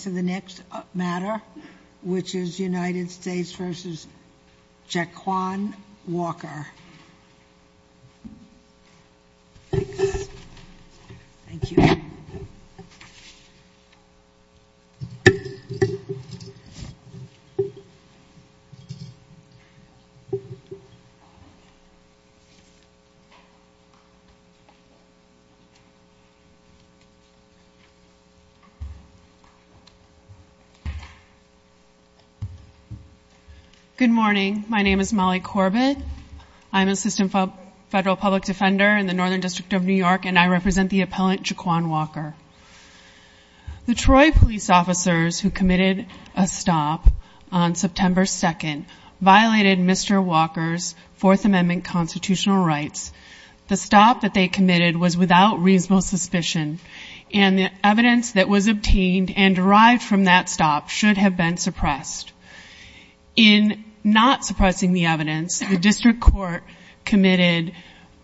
to the next matter, which is U.S. v. Jaquan Walker. Good morning. My name is Molly Corbett. I'm an assistant federal public defender in the Northern District of New York, and I represent the appellant Jaquan Walker. The Troy police officers who committed a stop on September 2nd violated Mr. Walker's Fourth Amendment constitutional rights. The stop that they committed was without reasonable suspicion, and the evidence that was obtained and derived from that stop should have been suppressed. In not suppressing the evidence, the district court committed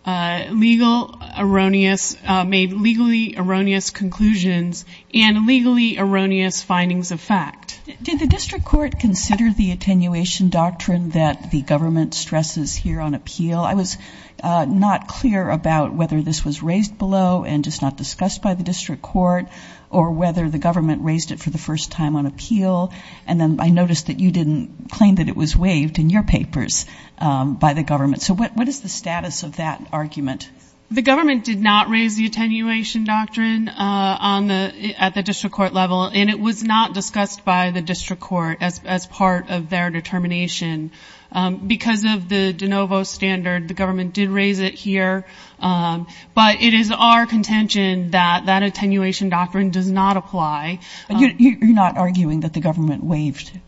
legal erroneous – made legally erroneous conclusions and legally erroneous findings of fact. Did the district court consider the attenuation doctrine that the government stresses here on appeal? I was not clear about whether this was raised below and just not discussed by the district court, or whether the government raised it for the first time on appeal. And then I noticed that you didn't claim that it was waived in your papers by the government. So what is the status of that argument? The government did not raise the attenuation doctrine on the – at the district court level, and it was not discussed by the district court as part of their determination. Because of the de novo standard, the government did raise it here, but it is our contention that that attenuation doctrine does not apply. You're not arguing that the government waived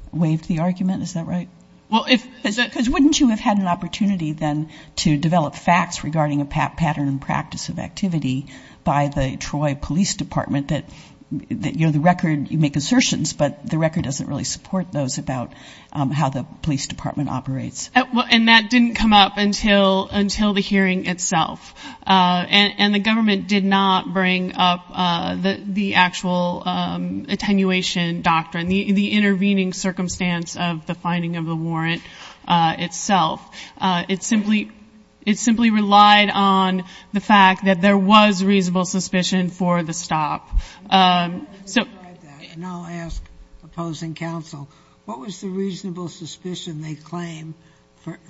the argument? Is that right? Well, if – because wouldn't you have had an opportunity then to develop facts regarding a pattern and practice of activity by the Troy Police Department that, you know, the record – you make assertions, but the record doesn't really support those about how the police department operates. And that didn't come up until the hearing itself. And the government did not bring up the actual attenuation doctrine, the intervening circumstance of the finding of the warrant itself. It simply relied on the fact that there was reasonable suspicion for the stop. And I'll ask opposing counsel, what was the reasonable suspicion they claim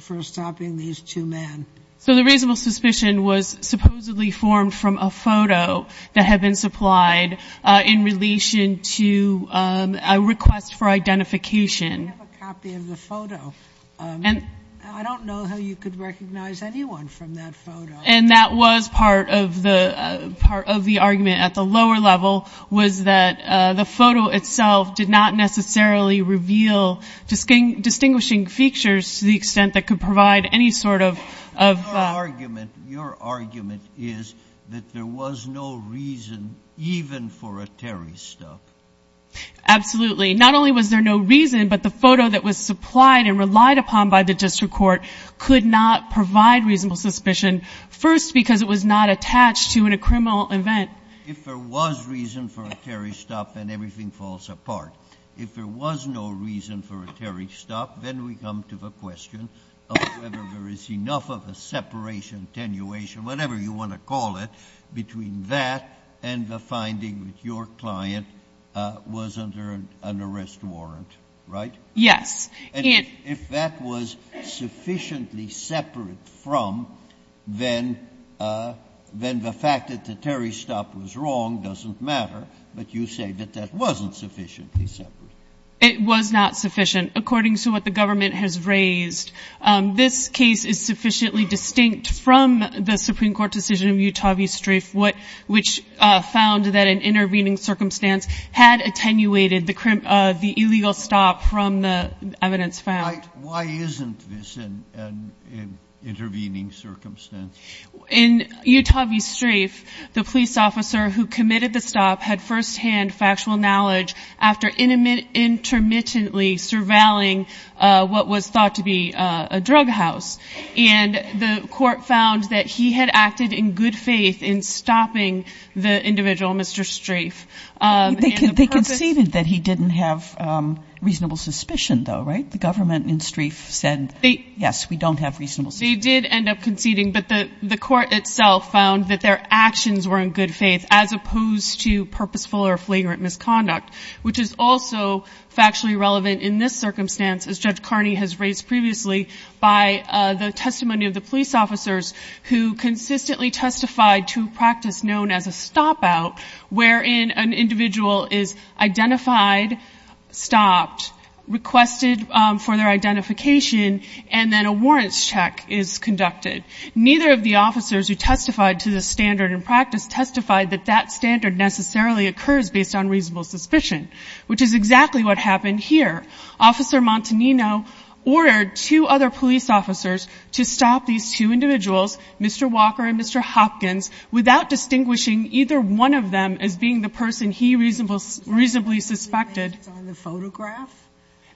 for stopping these two men? So the reasonable suspicion was supposedly formed from a photo that had been supplied in relation to a request for identification. We have a copy of the photo. I don't know how you could recognize anyone from that photo. And that was part of the argument at the lower level was that the photo itself did not necessarily reveal distinguishing features to the extent that could provide any sort of – Your argument is that there was no reason even for a Terry stop. Absolutely. Not only was there no reason, but the photo that was supplied and relied upon by the district court could not provide reasonable suspicion, first because it was not attached to a criminal event. If there was reason for a Terry stop, then everything falls apart. If there was no reason for a Terry stop, then we come to the question of whether there is enough of a separation, attenuation, whatever you want to call it, between that and the finding that your client was under an arrest warrant, right? Yes. And if that was sufficiently separate from, then the fact that the Terry stop was wrong doesn't matter, but you say that that wasn't sufficiently separate. It was not sufficient, according to what the government has raised. This case is sufficiently distinct from the Supreme Court decision of Utah v. Strafe, which found that an intervening circumstance had attenuated the illegal stop from the evidence found. Why isn't this an intervening circumstance? In Utah v. Strafe, the police officer who committed the stop had firsthand factual knowledge after intermittently surveilling what was thought to be a drug house. And the court found that he had acted in good faith in stopping the individual, Mr. Strafe. They conceded that he didn't have reasonable suspicion, though, right? The government in Strafe said, yes, we don't have reasonable suspicion. They did end up conceding, but the court itself found that their actions were in good faith, as opposed to purposeful or flagrant misconduct, which is also factually relevant in this circumstance, as Judge Carney has raised previously, by the testimony of the police officers who consistently testified to practice known as a stop-out, wherein an individual is identified, stopped, requested for their identification, and then a warrants check is conducted. Neither of the officers who testified to the standard in practice testified that that standard necessarily occurs based on reasonable suspicion, which is exactly what happened here. Officer Montanino ordered two other police officers to stop these two individuals, Mr. Walker and Mr. Hopkins, without distinguishing either one of them as being the person he reasonably suspected.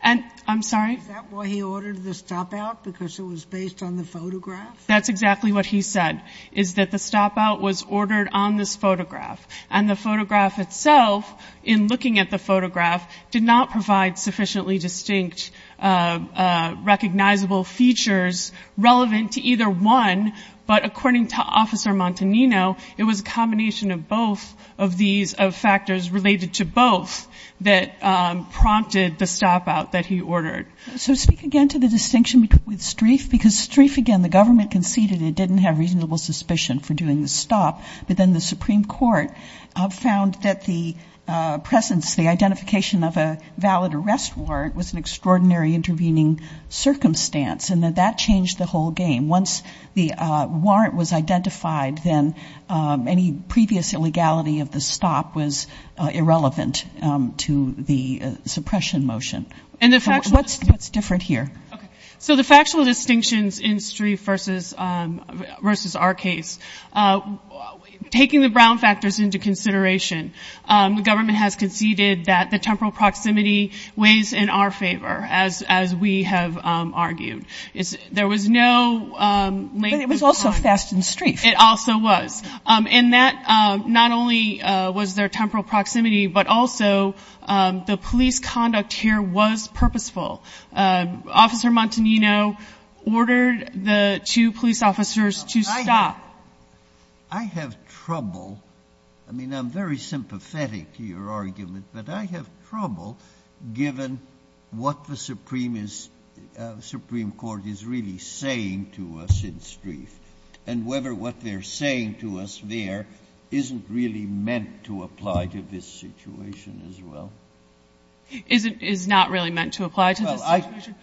And I'm sorry? Is that why he ordered the stop-out, because it was based on the photograph? That's exactly what he said, is that the stop-out was ordered on this photograph. And the photograph itself, in looking at the photograph, did not provide sufficiently distinct recognizable features relevant to either one, but according to Officer Montanino, it was a combination of both of these factors, related to both, that prompted the stop-out that he ordered. So speak again to the distinction with Strieff, because Strieff, again, the government conceded it didn't have reasonable suspicion for doing the stop, but then the Supreme Court found that the presence, the identification of a valid arrest warrant, was an extraordinary intervening circumstance, and that that changed the whole game. Once the warrant was identified, then any previous illegality of the stop was irrelevant to the suppression motion. What's different here? So the factual distinctions in Strieff versus our case, taking the Brown factors into consideration, the government has conceded that the temporal proximity weighs in our favor, as we have argued. There was no later time. But it was also Fast and Strieff. It also was. And that not only was there temporal proximity, but also the police conduct here was purposeful. Officer Montanino ordered the two police officers to stop. I have trouble, I mean, I'm very sympathetic to your argument, but I have trouble given what the Supreme is, Supreme Court is really saying to us in Strieff, and whether what they're saying to us there isn't really meant to apply to this situation as well. It is not really meant to apply to this situation?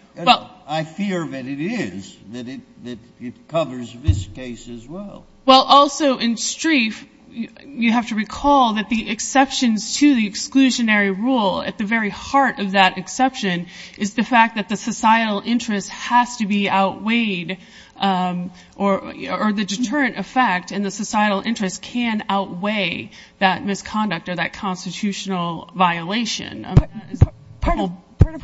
I fear that it is, that it covers this case as well. Well, also in Strieff, you have to recall that the exceptions to the exclusionary rule at the very heart of that exception is the fact that the societal interest has to be outweighed or the deterrent effect and the societal interest can outweigh that misconduct or that constitutional violation. Part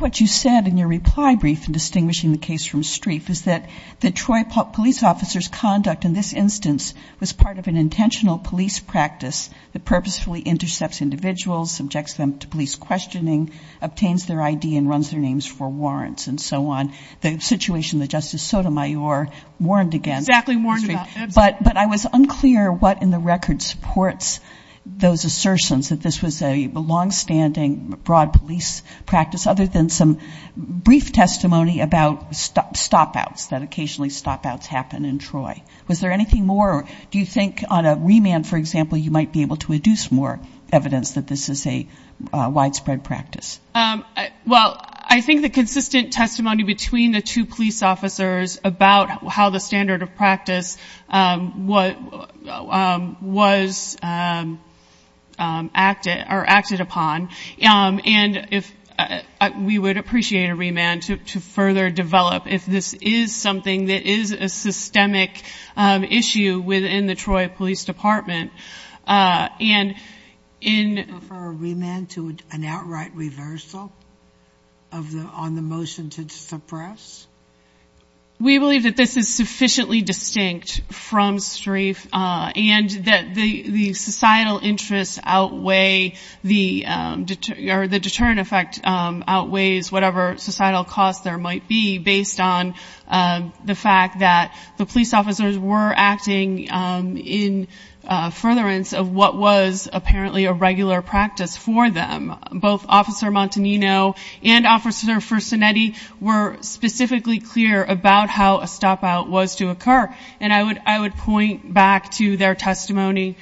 of what you said in your reply brief in distinguishing the case from Strieff is that Detroit police officers' conduct in this instance was part of an intentional police practice that purposefully intercepts individuals, subjects them to police questioning, obtains their ID and runs their names for warrants and so on. The situation that Justice Sotomayor warned against. Exactly warned about. But I was unclear what in the record supports those assertions, that this was a longstanding broad police practice other than some brief testimony about stopouts, that occasionally stopouts happen in Troy. Was there anything more or do you think on a remand, for example, you might be able to deduce more evidence that this is a widespread practice? Well, I think the consistent testimony between the two police officers about how the standard of practice was acted or acted upon. And we would appreciate a remand to further develop if this is something that is a systemic issue within the Troy Police Department. Would you prefer a remand to an outright reversal on the motion to suppress? We believe that this is sufficiently distinct from strafe and that the societal interests outweigh the deterrent effect, outweighs whatever societal cost there might be based on the fact that the police officers were acting in furtherance of what was apparently a regular practice for them. Both Officer Montanino and Officer Fersenetti were specifically clear about how a stopout was to occur. And I would point back to their testimony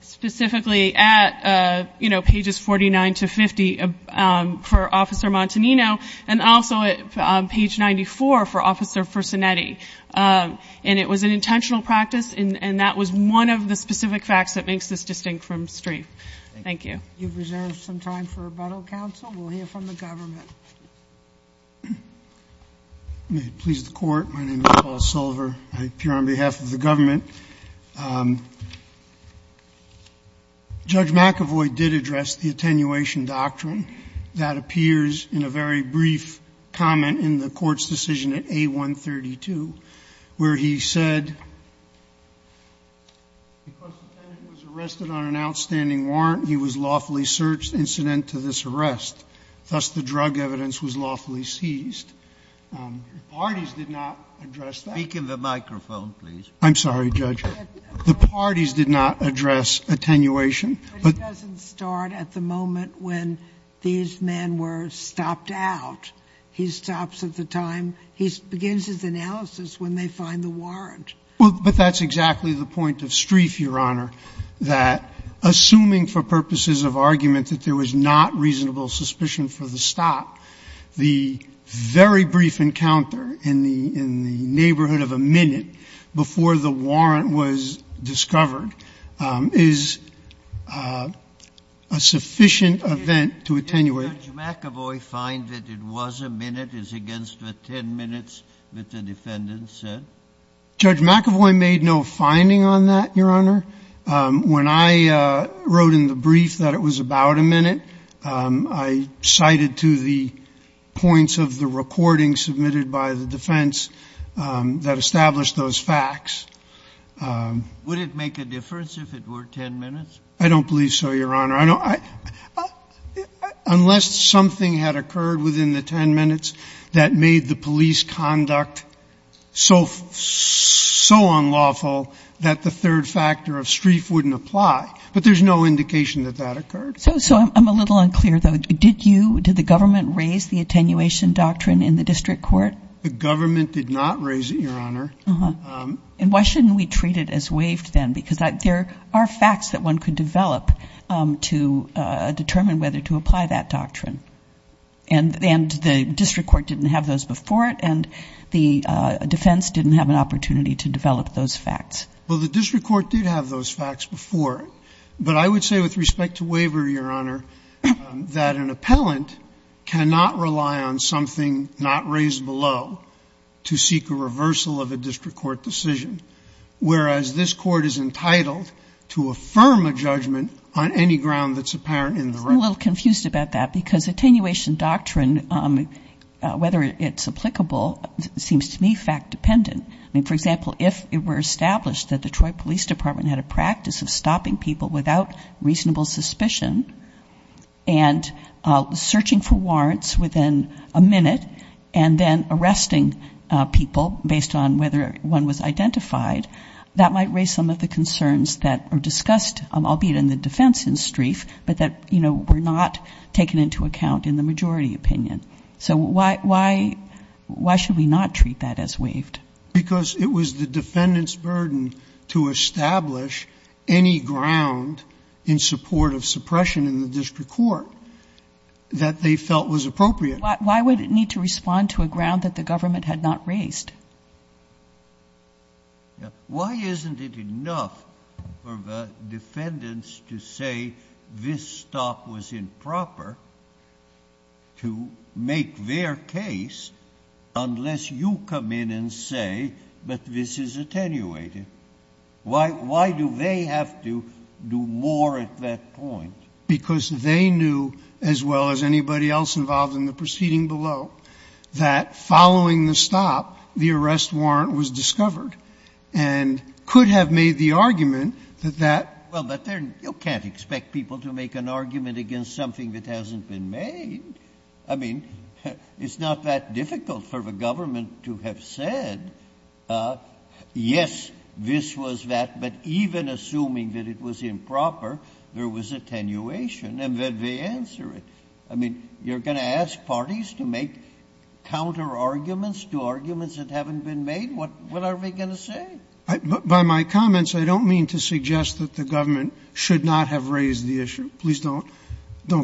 specifically at, you know, pages 49 to 50 for Officer Montanino and also at page 94 for Officer Fersenetti. And it was an intentional practice and that was one of the specific facts that makes this distinct from strafe. Thank you. You've reserved some time for rebuttal, counsel. We'll hear from the government. May it please the Court. My name is Paul Silver. I appear on behalf of the government. Judge McAvoy did address the attenuation doctrine. That appears in a very brief comment in the Court's decision at A132 where he said, Because the tenant was arrested on an outstanding warrant, he was lawfully searched incident to this arrest, thus the drug evidence was lawfully seized. The parties did not address that. Speak in the microphone, please. I'm sorry, Judge. The parties did not address attenuation. But it doesn't start at the moment when these men were stopped out. Well, but that's exactly the point of strafe, Your Honor, that assuming for purposes of argument that there was not reasonable suspicion for the stop, the very brief encounter in the neighborhood of a minute before the warrant was discovered is a sufficient event to attenuate. Did Judge McAvoy find that it was a minute? Is against the 10 minutes that the defendant said? Judge McAvoy made no finding on that, Your Honor. When I wrote in the brief that it was about a minute, I cited to the points of the recording submitted by the defense that established those facts. Would it make a difference if it were 10 minutes? I don't believe so, Your Honor. Unless something had occurred within the 10 minutes that made the police conduct so unlawful that the third factor of strafe wouldn't apply. But there's no indication that that occurred. So I'm a little unclear, though. Did the government raise the attenuation doctrine in the district court? The government did not raise it, Your Honor. And why shouldn't we treat it as waived then? Because there are facts that one could develop to determine whether to apply that doctrine. And the district court didn't have those before it, and the defense didn't have an opportunity to develop those facts. Well, the district court did have those facts before. But I would say with respect to waiver, Your Honor, that an appellant cannot rely on something not raised below to seek a reversal of a district court decision. Whereas this court is entitled to affirm a judgment on any ground that's apparent in the record. I'm a little confused about that because attenuation doctrine, whether it's applicable, seems to me fact-dependent. I mean, for example, if it were established that the Detroit Police Department had a practice of stopping people without reasonable suspicion and searching for warrants within a minute and then arresting people based on whether one was identified, that might raise some of the concerns that are discussed, albeit in the defense in Strieff, but that, you know, were not taken into account in the majority opinion. So why should we not treat that as waived? Because it was the defendant's burden to establish any ground in support of suppression in the district court that they felt was appropriate. Why would it need to respond to a ground that the government had not raised? Why isn't it enough for the defendants to say this stop was improper to make their case unless you come in and say, but this is attenuated? Why do they have to do more at that point? Because they knew, as well as anybody else involved in the proceeding below, that following the stop, the arrest warrant was discovered, and could have made the argument that that. Well, but there you can't expect people to make an argument against something that hasn't been made. I mean, it's not that difficult for the government to have said, yes, this was that, but even assuming that it was improper, there was attenuation, and then they answer it. I mean, you're going to ask parties to make counterarguments to arguments that haven't been made? What are they going to say? By my comments, I don't mean to suggest that the government should not have raised the issue. Please don't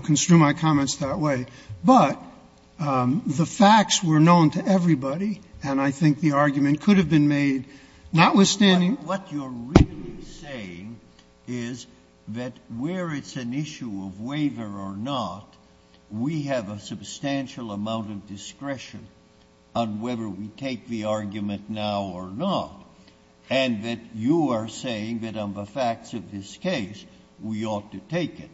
construe my comments that way. But the facts were known to everybody, and I think the argument could have been made, notwithstanding. What you're really saying is that where it's an issue of waiver or not, we have a substantial amount of discretion on whether we take the argument now or not, and that you are saying that on the facts of this case, we ought to take it.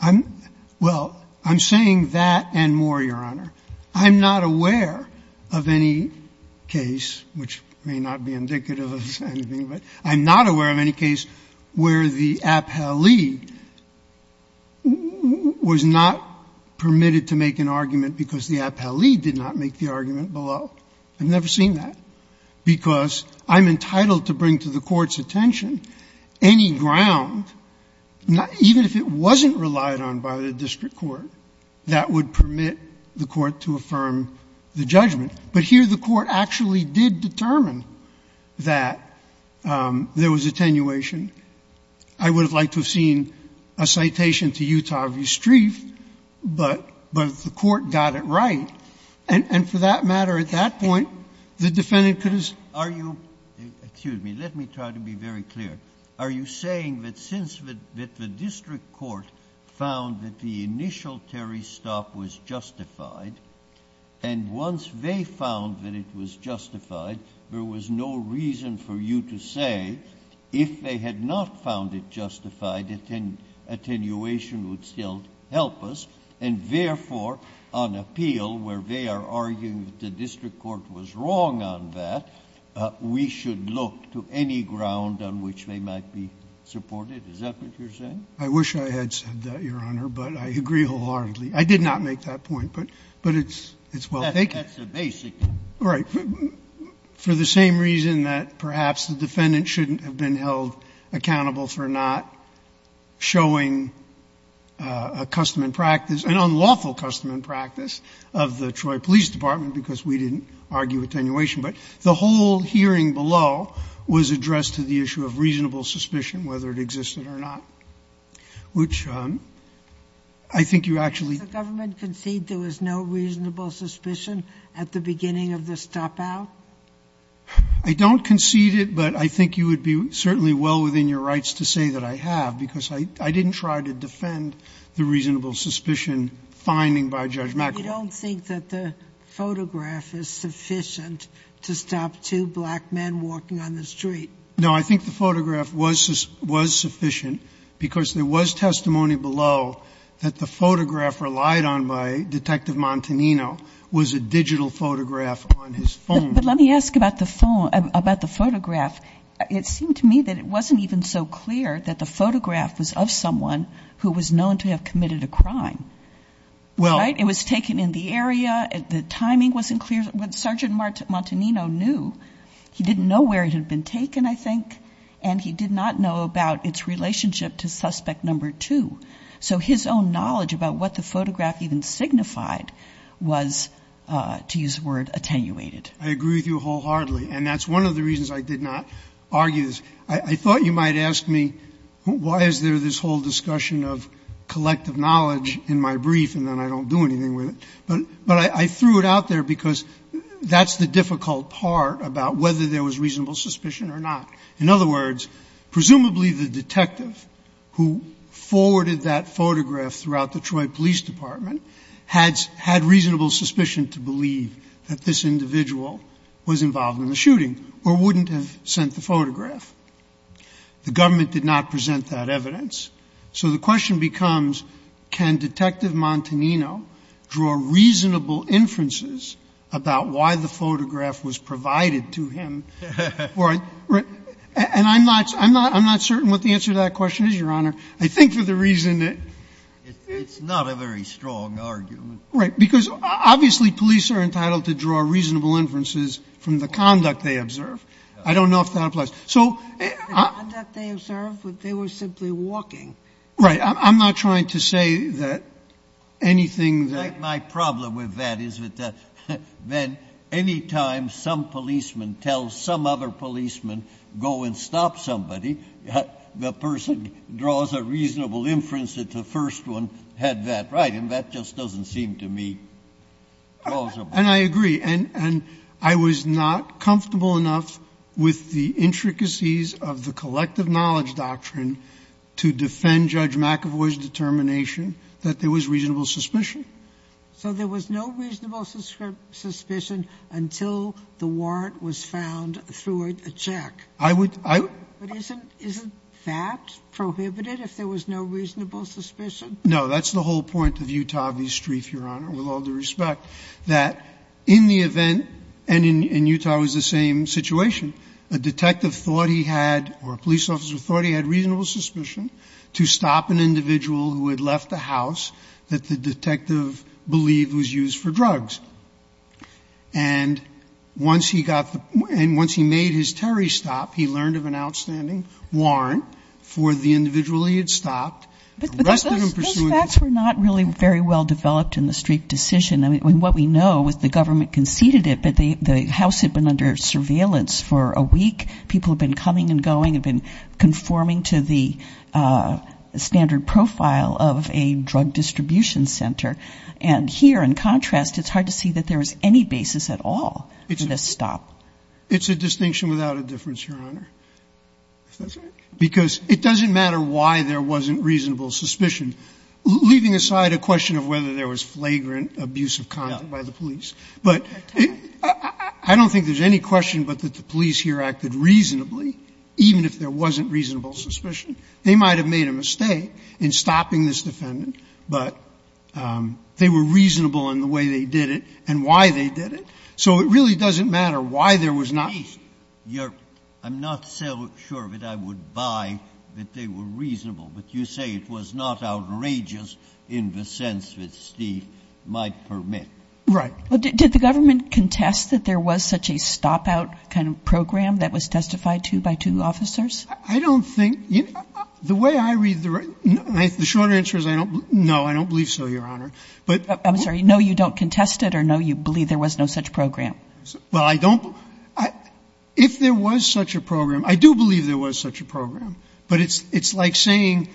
I'm — well, I'm saying that and more, Your Honor. I'm not aware of any case, which may not be indicative of anything, but I'm not aware of any case where the appellee was not permitted to make an argument because the appellee did not make the argument below. I've never seen that, because I'm entitled to bring to the Court's attention any ground, even if it wasn't relied on by the district court, that would permit the court to affirm the judgment. But here the court actually did determine that there was attenuation. I would have liked to have seen a citation to Utah v. Strieff, but the court got it right. And for that matter, at that point, the defendant could have said, are you — excuse me. Let me try to be very clear. Are you saying that since the district court found that the initial Terry's stop was justified, and once they found that it was justified, there was no reason for you to say if they had not found it justified, attenuation would still help us, and therefore on appeal, where they are arguing that the district court was wrong on that, we should look to any ground on which they might be supported? Is that what you're saying? I wish I had said that, Your Honor, but I agree wholeheartedly. I did not make that point, but it's well taken. That's the basic. Right. For the same reason that perhaps the defendant shouldn't have been held accountable for not showing a custom and practice, an unlawful custom and practice of the Troy Police Department, because we didn't argue attenuation. But the whole hearing below was addressed to the issue of reasonable suspicion, whether it existed or not, which I think you actually. Does the government concede there was no reasonable suspicion at the beginning of the stopout? I don't concede it, but I think you would be certainly well within your rights to say that I have, because I didn't try to defend the reasonable suspicion finding by Judge McAvoy. You don't think that the photograph is sufficient to stop two black men walking on the street? No, I think the photograph was sufficient because there was testimony below that the photograph relied on by Detective Montanino was a digital photograph on his phone. But let me ask about the phone, about the photograph. It seemed to me that it wasn't even so clear that the photograph was of someone who was known to have committed a crime. Well, it was taken in the area. The timing wasn't clear. When Sergeant Montanino knew, he didn't know where it had been taken, I think, and he did not know about its relationship to suspect number two. So his own knowledge about what the photograph even signified was, to use the word, attenuated. I agree with you wholeheartedly, and that's one of the reasons I did not argue this. I thought you might ask me, why is there this whole discussion of collective knowledge in my brief? And then I don't do anything with it. But I threw it out there because that's the difficult part about whether there was reasonable suspicion or not. In other words, presumably the detective who forwarded that photograph throughout the Troy Police Department had reasonable suspicion to believe that this individual was involved in the shooting or wouldn't have sent the photograph. The government did not present that evidence. So the question becomes, can Detective Montanino draw reasonable inferences about why the photograph was provided to him? And I'm not certain what the answer to that question is, Your Honor. I think for the reason that it's not a very strong argument, right? Because obviously police are entitled to draw reasonable inferences from the conduct they observe. I don't know if that applies. So... The conduct they observed, they were simply walking. Right. I'm not trying to say that anything that... My problem with that is that anytime some policeman tells some other policeman, go and stop somebody, the person draws a reasonable inference that the first one had that right. And that just doesn't seem to me plausible. And I agree. And I was not comfortable enough with the intricacies of the collective knowledge doctrine to defend Judge McAvoy's determination that there was reasonable suspicion. So there was no reasonable suspicion until the warrant was found through a check. I would... But isn't that prohibited, if there was no reasonable suspicion? No, that's the whole point of Utah v. Streiff, Your Honor, with all due respect. That in the event, and in Utah it was the same situation, a detective thought he had, or a police officer thought he had reasonable suspicion to stop an individual who had left the house that the detective believed was used for drugs. And once he got the... And once he made his Terry stop, he learned of an outstanding warrant for the individual he had stopped. But those facts were not really very well developed in the Streiff decision. I mean, what we know was the government conceded it, but the house had been under surveillance for a week. People have been coming and going, have been conforming to the standard profile of a drug distribution center. And here, in contrast, it's hard to see that there was any basis at all for this stop. It's a distinction without a difference, Your Honor. Because it doesn't matter why there wasn't reasonable suspicion. Leaving aside a question of whether there was flagrant abuse of conduct by the police. But I don't think there's any question but that the police here acted reasonably, even if there wasn't reasonable suspicion. They might have made a mistake in stopping this defendant, but they were reasonable in the way they did it and why they did it. So it really doesn't matter why there was not... Scalia, Your Honor, I'm not so sure that I would buy that they were reasonable. But you say it was not outrageous in the sense that Steve might permit. Right. But did the government contest that there was such a stop out kind of program that was testified to by two officers? I don't think the way I read the short answer is I don't know. I don't believe so, Your Honor. But I'm sorry. No, you don't contest it or no, you believe there was no such program. Well, I don't. If there was such a program, I do believe there was such a program, but it's like saying,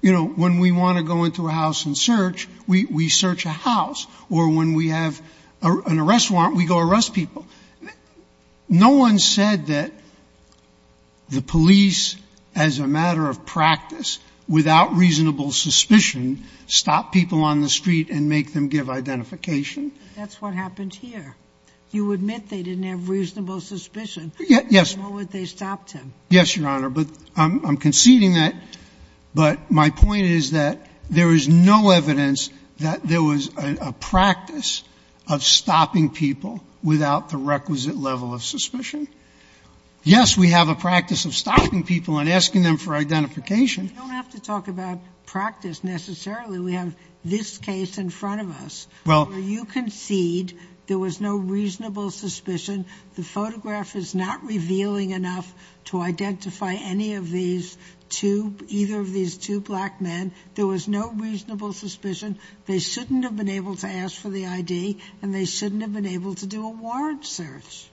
you know, when we want to go into a house and search, we search a house. Or when we have an arrest warrant, we go arrest people. No one said that the police, as a matter of practice, without reasonable suspicion, stop people on the street and make them give identification. That's what happened here. You admit they didn't have reasonable suspicion. Yes. Nor would they have stopped him. Yes, Your Honor. But I'm conceding that. But my point is that there is no evidence that there was a practice of stopping people without the requisite level of suspicion. Yes, we have a practice of stopping people and asking them for identification. You don't have to talk about practice necessarily. We have this case in front of us. Well. Where you concede there was no reasonable suspicion, the photograph is not revealing enough to identify any of these two, either of these two black men. There was no reasonable suspicion. They shouldn't have been able to ask for the ID and they shouldn't have been able to do a warrant search.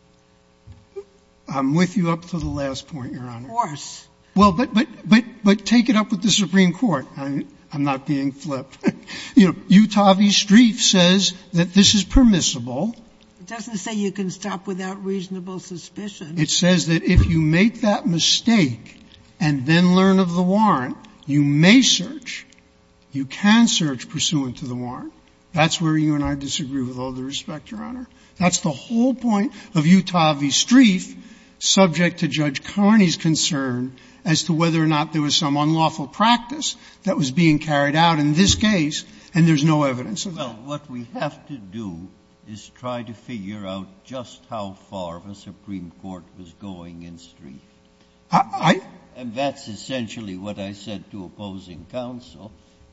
I'm with you up to the last point, Your Honor. Of course. Well, but, but, but, but take it up with the Supreme Court. I'm not being flipped. You know, Utah v. Streiff says that this is permissible. It doesn't say you can stop without reasonable suspicion. It says that if you make that mistake and then learn of the warrant, you may search, you can search pursuant to the warrant. That's where you and I disagree with all due respect, Your Honor. That's the whole point of Utah v. Streiff, subject to Judge Carney's concern as to whether or not there was some unlawful practice that was being carried out in this case, and there's no evidence of that. Well, what we have to do is try to figure out just how far the Supreme Court was going in Streiff. I, I. And that's essentially what I said to opposing counsel,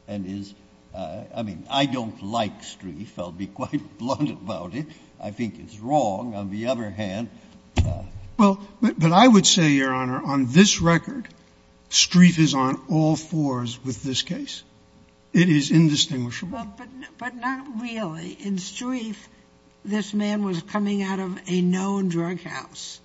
and is, I mean, I don't like Streiff. I'll be quite blunt about it. I think it's wrong. On the other hand. Well, but, but I would say, Your Honor, on this record, Streiff is on all fours with this case. It is indistinguishable. But not really. In Streiff, this man was coming out of a known drug house.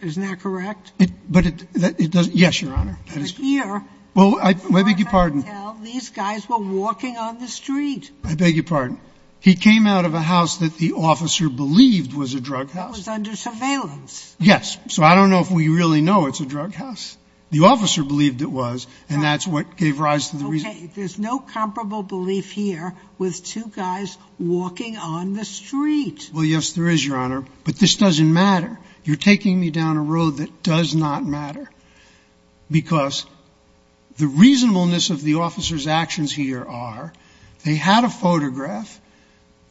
Isn't that correct? But it, it doesn't, yes, Your Honor. Here. Well, I, I beg your pardon. These guys were walking on the street. I beg your pardon. He came out of a house that the officer believed was a drug house. That was under surveillance. Yes. So I don't know if we really know it's a drug house. The officer believed it was, and that's what gave rise to the reasoning. Okay. There's no comparable belief here with two guys walking on the street. Well, yes, there is, Your Honor. But this doesn't matter. You're taking me down a road that does not matter. Because the reasonableness of the officer's actions here are, they had a photograph.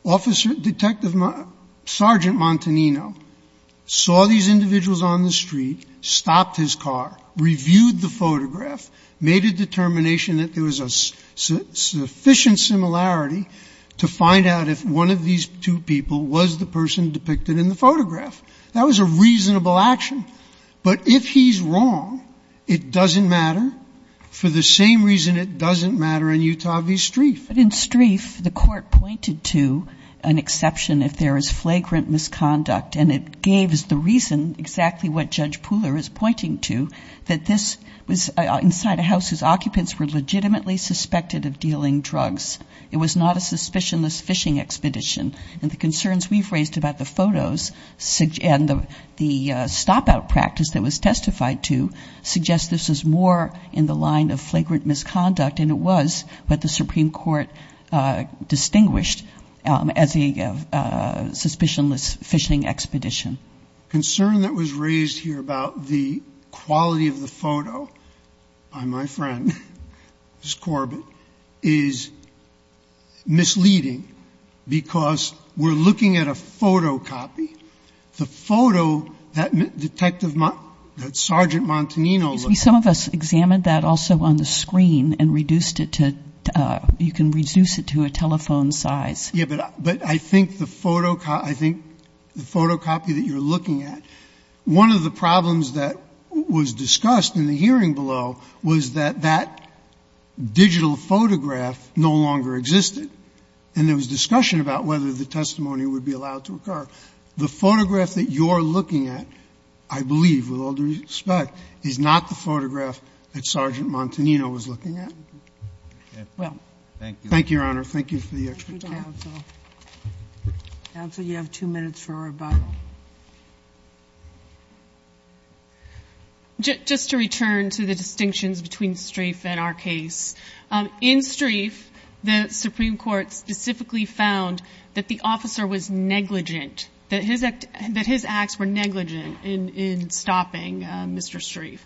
Officer, Detective, Sergeant Montanino saw these individuals on the street, stopped his car, reviewed the photograph, made a determination that there was a sufficient similarity to find out if one of these two people was the person depicted in the photograph. That was a reasonable action. But if he's wrong, it doesn't matter. For the same reason it doesn't matter in Utah v. Streiff. But in Streiff, the court pointed to an exception if there is flagrant misconduct. And it gave us the reason exactly what Judge Pooler is pointing to, that this was inside a house whose occupants were legitimately suspected of dealing drugs. It was not a suspicionless phishing expedition. And the concerns we've raised about the photos and the stop-out practice that was testified to suggest this is more in the line of flagrant misconduct. And it was what the Supreme Court distinguished as a suspicionless phishing expedition. Concern that was raised here about the quality of the photo by my friend, Ms. Corbett, is misleading. Because we're looking at a photocopy. The photo that Detective, that Sergeant Montanino looked at. Some of us examined that also on the screen and reduced it to, you can reduce it to a telephone size. Yeah, but I think the photocopy that you're looking at, one of the problems that was discussed in the hearing below was that that digital photograph no longer existed. And there was discussion about whether the testimony would be allowed to occur. The photograph that you're looking at, I believe, with all due respect, is not the photograph that Sergeant Montanino was looking at. Well, thank you, Your Honor. Thank you for the extra time. Counsel, you have two minutes for rebuttal. Just to return to the distinctions between Streiff and our case. In Streiff, the Supreme Court specifically found that the officer was negligent, that his acts were negligent in stopping Mr. Streiff.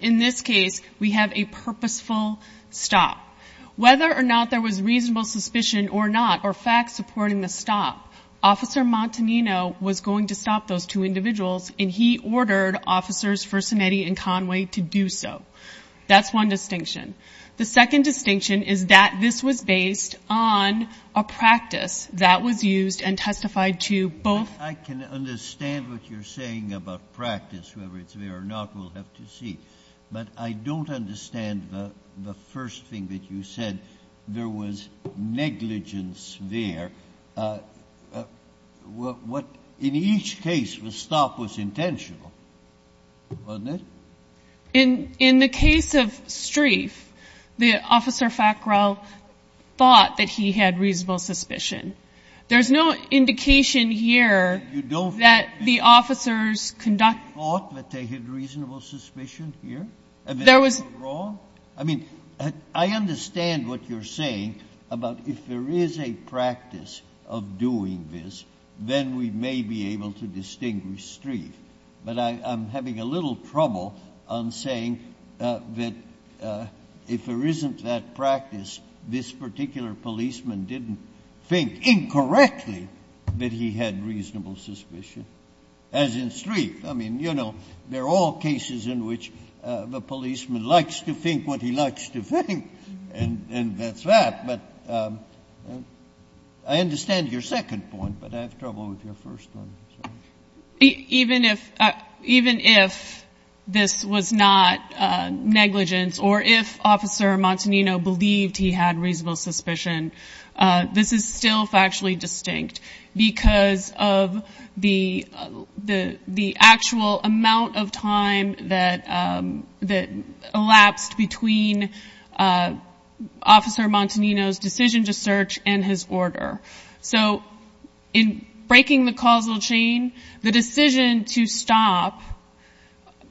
In this case, we have a purposeful stop. Whether or not there was reasonable suspicion or not, or facts supporting the stop, Officer Montanino was going to stop those two individuals, and he ordered Officers Fersenetti and Conway to do so. That's one distinction. The second distinction is that this was based on a practice that was used and testified to both... I can understand what you're saying about practice, whether it's there or not, we'll have to see. But I don't understand the first thing that you said, there was negligence there. What, in each case, the stop was intentional, wasn't it? In the case of Streiff, the Officer Fackrell thought that he had reasonable suspicion. There's no indication here that the officers conducted... You thought that they had reasonable suspicion here? There was... I mean, I understand what you're saying about if there is a practice of doing this, then we may be able to distinguish Streiff. But I'm having a little trouble on saying that if there isn't that practice, this particular policeman didn't think incorrectly that he had reasonable suspicion, as in Streiff. I mean, you know, there are all cases in which the policeman likes to think what he likes to think, and that's that. But I understand your second point, but I have trouble with your first one. Even if this was not negligence, or if Officer Montanino believed he had reasonable suspicion, this is still factually distinct because of the actual amount of time that elapsed between Officer Montanino's decision to search and his order. So, in breaking the causal chain, the decision to stop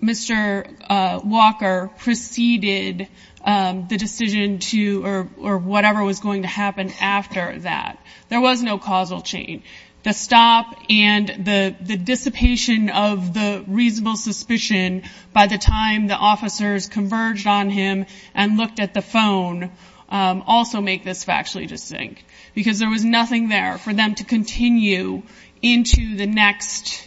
Mr. Walker preceded the decision to... or whatever was going to happen after that. There was no causal chain. The stop and the dissipation of the reasonable suspicion by the time the officers converged on him and looked at the phone also make this factually distinct because there was nothing there for them to continue into the next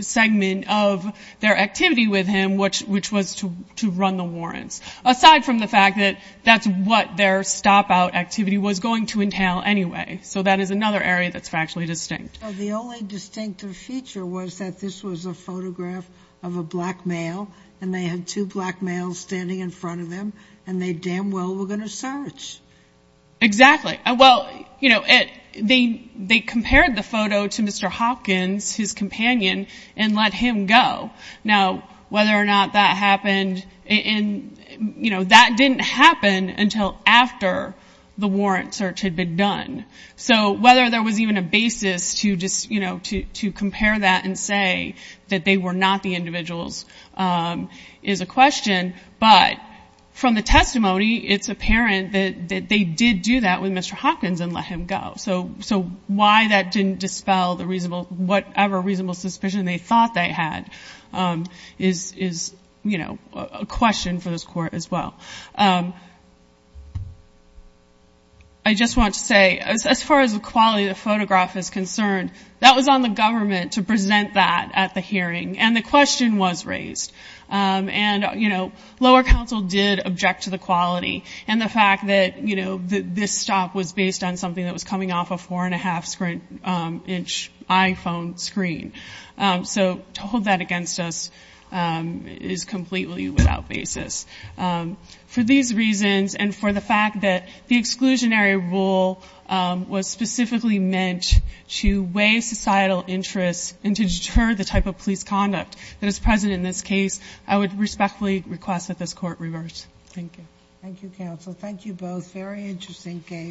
segment of their activity with him, which was to run the warrants, aside from the fact that that's what their stop-out activity was going to entail anyway. So that is another area that's factually distinct. The only distinctive feature was that this was a photograph of a black male, and they had two black males standing in front of them, and they damn well were going to search. Exactly. Well, you know, they compared the photo to Mr. Hopkins, his companion, and let him go. Now, whether or not that happened... And, you know, that didn't happen until after the warrant search had been done. So whether there was even a basis to just, you know, to compare that But from the testimony, it's apparent that they did do that with Mr. Hopkins and let him go. So why that didn't dispel the reasonable... whatever reasonable suspicion they thought they had is, you know, a question for this court as well. I just want to say, as far as the quality of the photograph is concerned, that was on the government to present that at the hearing, and the question was raised. And, you know, lower counsel did object to the quality, and the fact that, you know, this stop was based on something that was coming off a 4.5-inch iPhone screen. So to hold that against us is completely without basis. For these reasons, and for the fact that the exclusionary rule was specifically meant to weigh societal interests and to deter the type of police conduct that is present in this case, I would respectfully request that this court reverse. Thank you. Thank you, counsel. Thank you both. Very interesting case.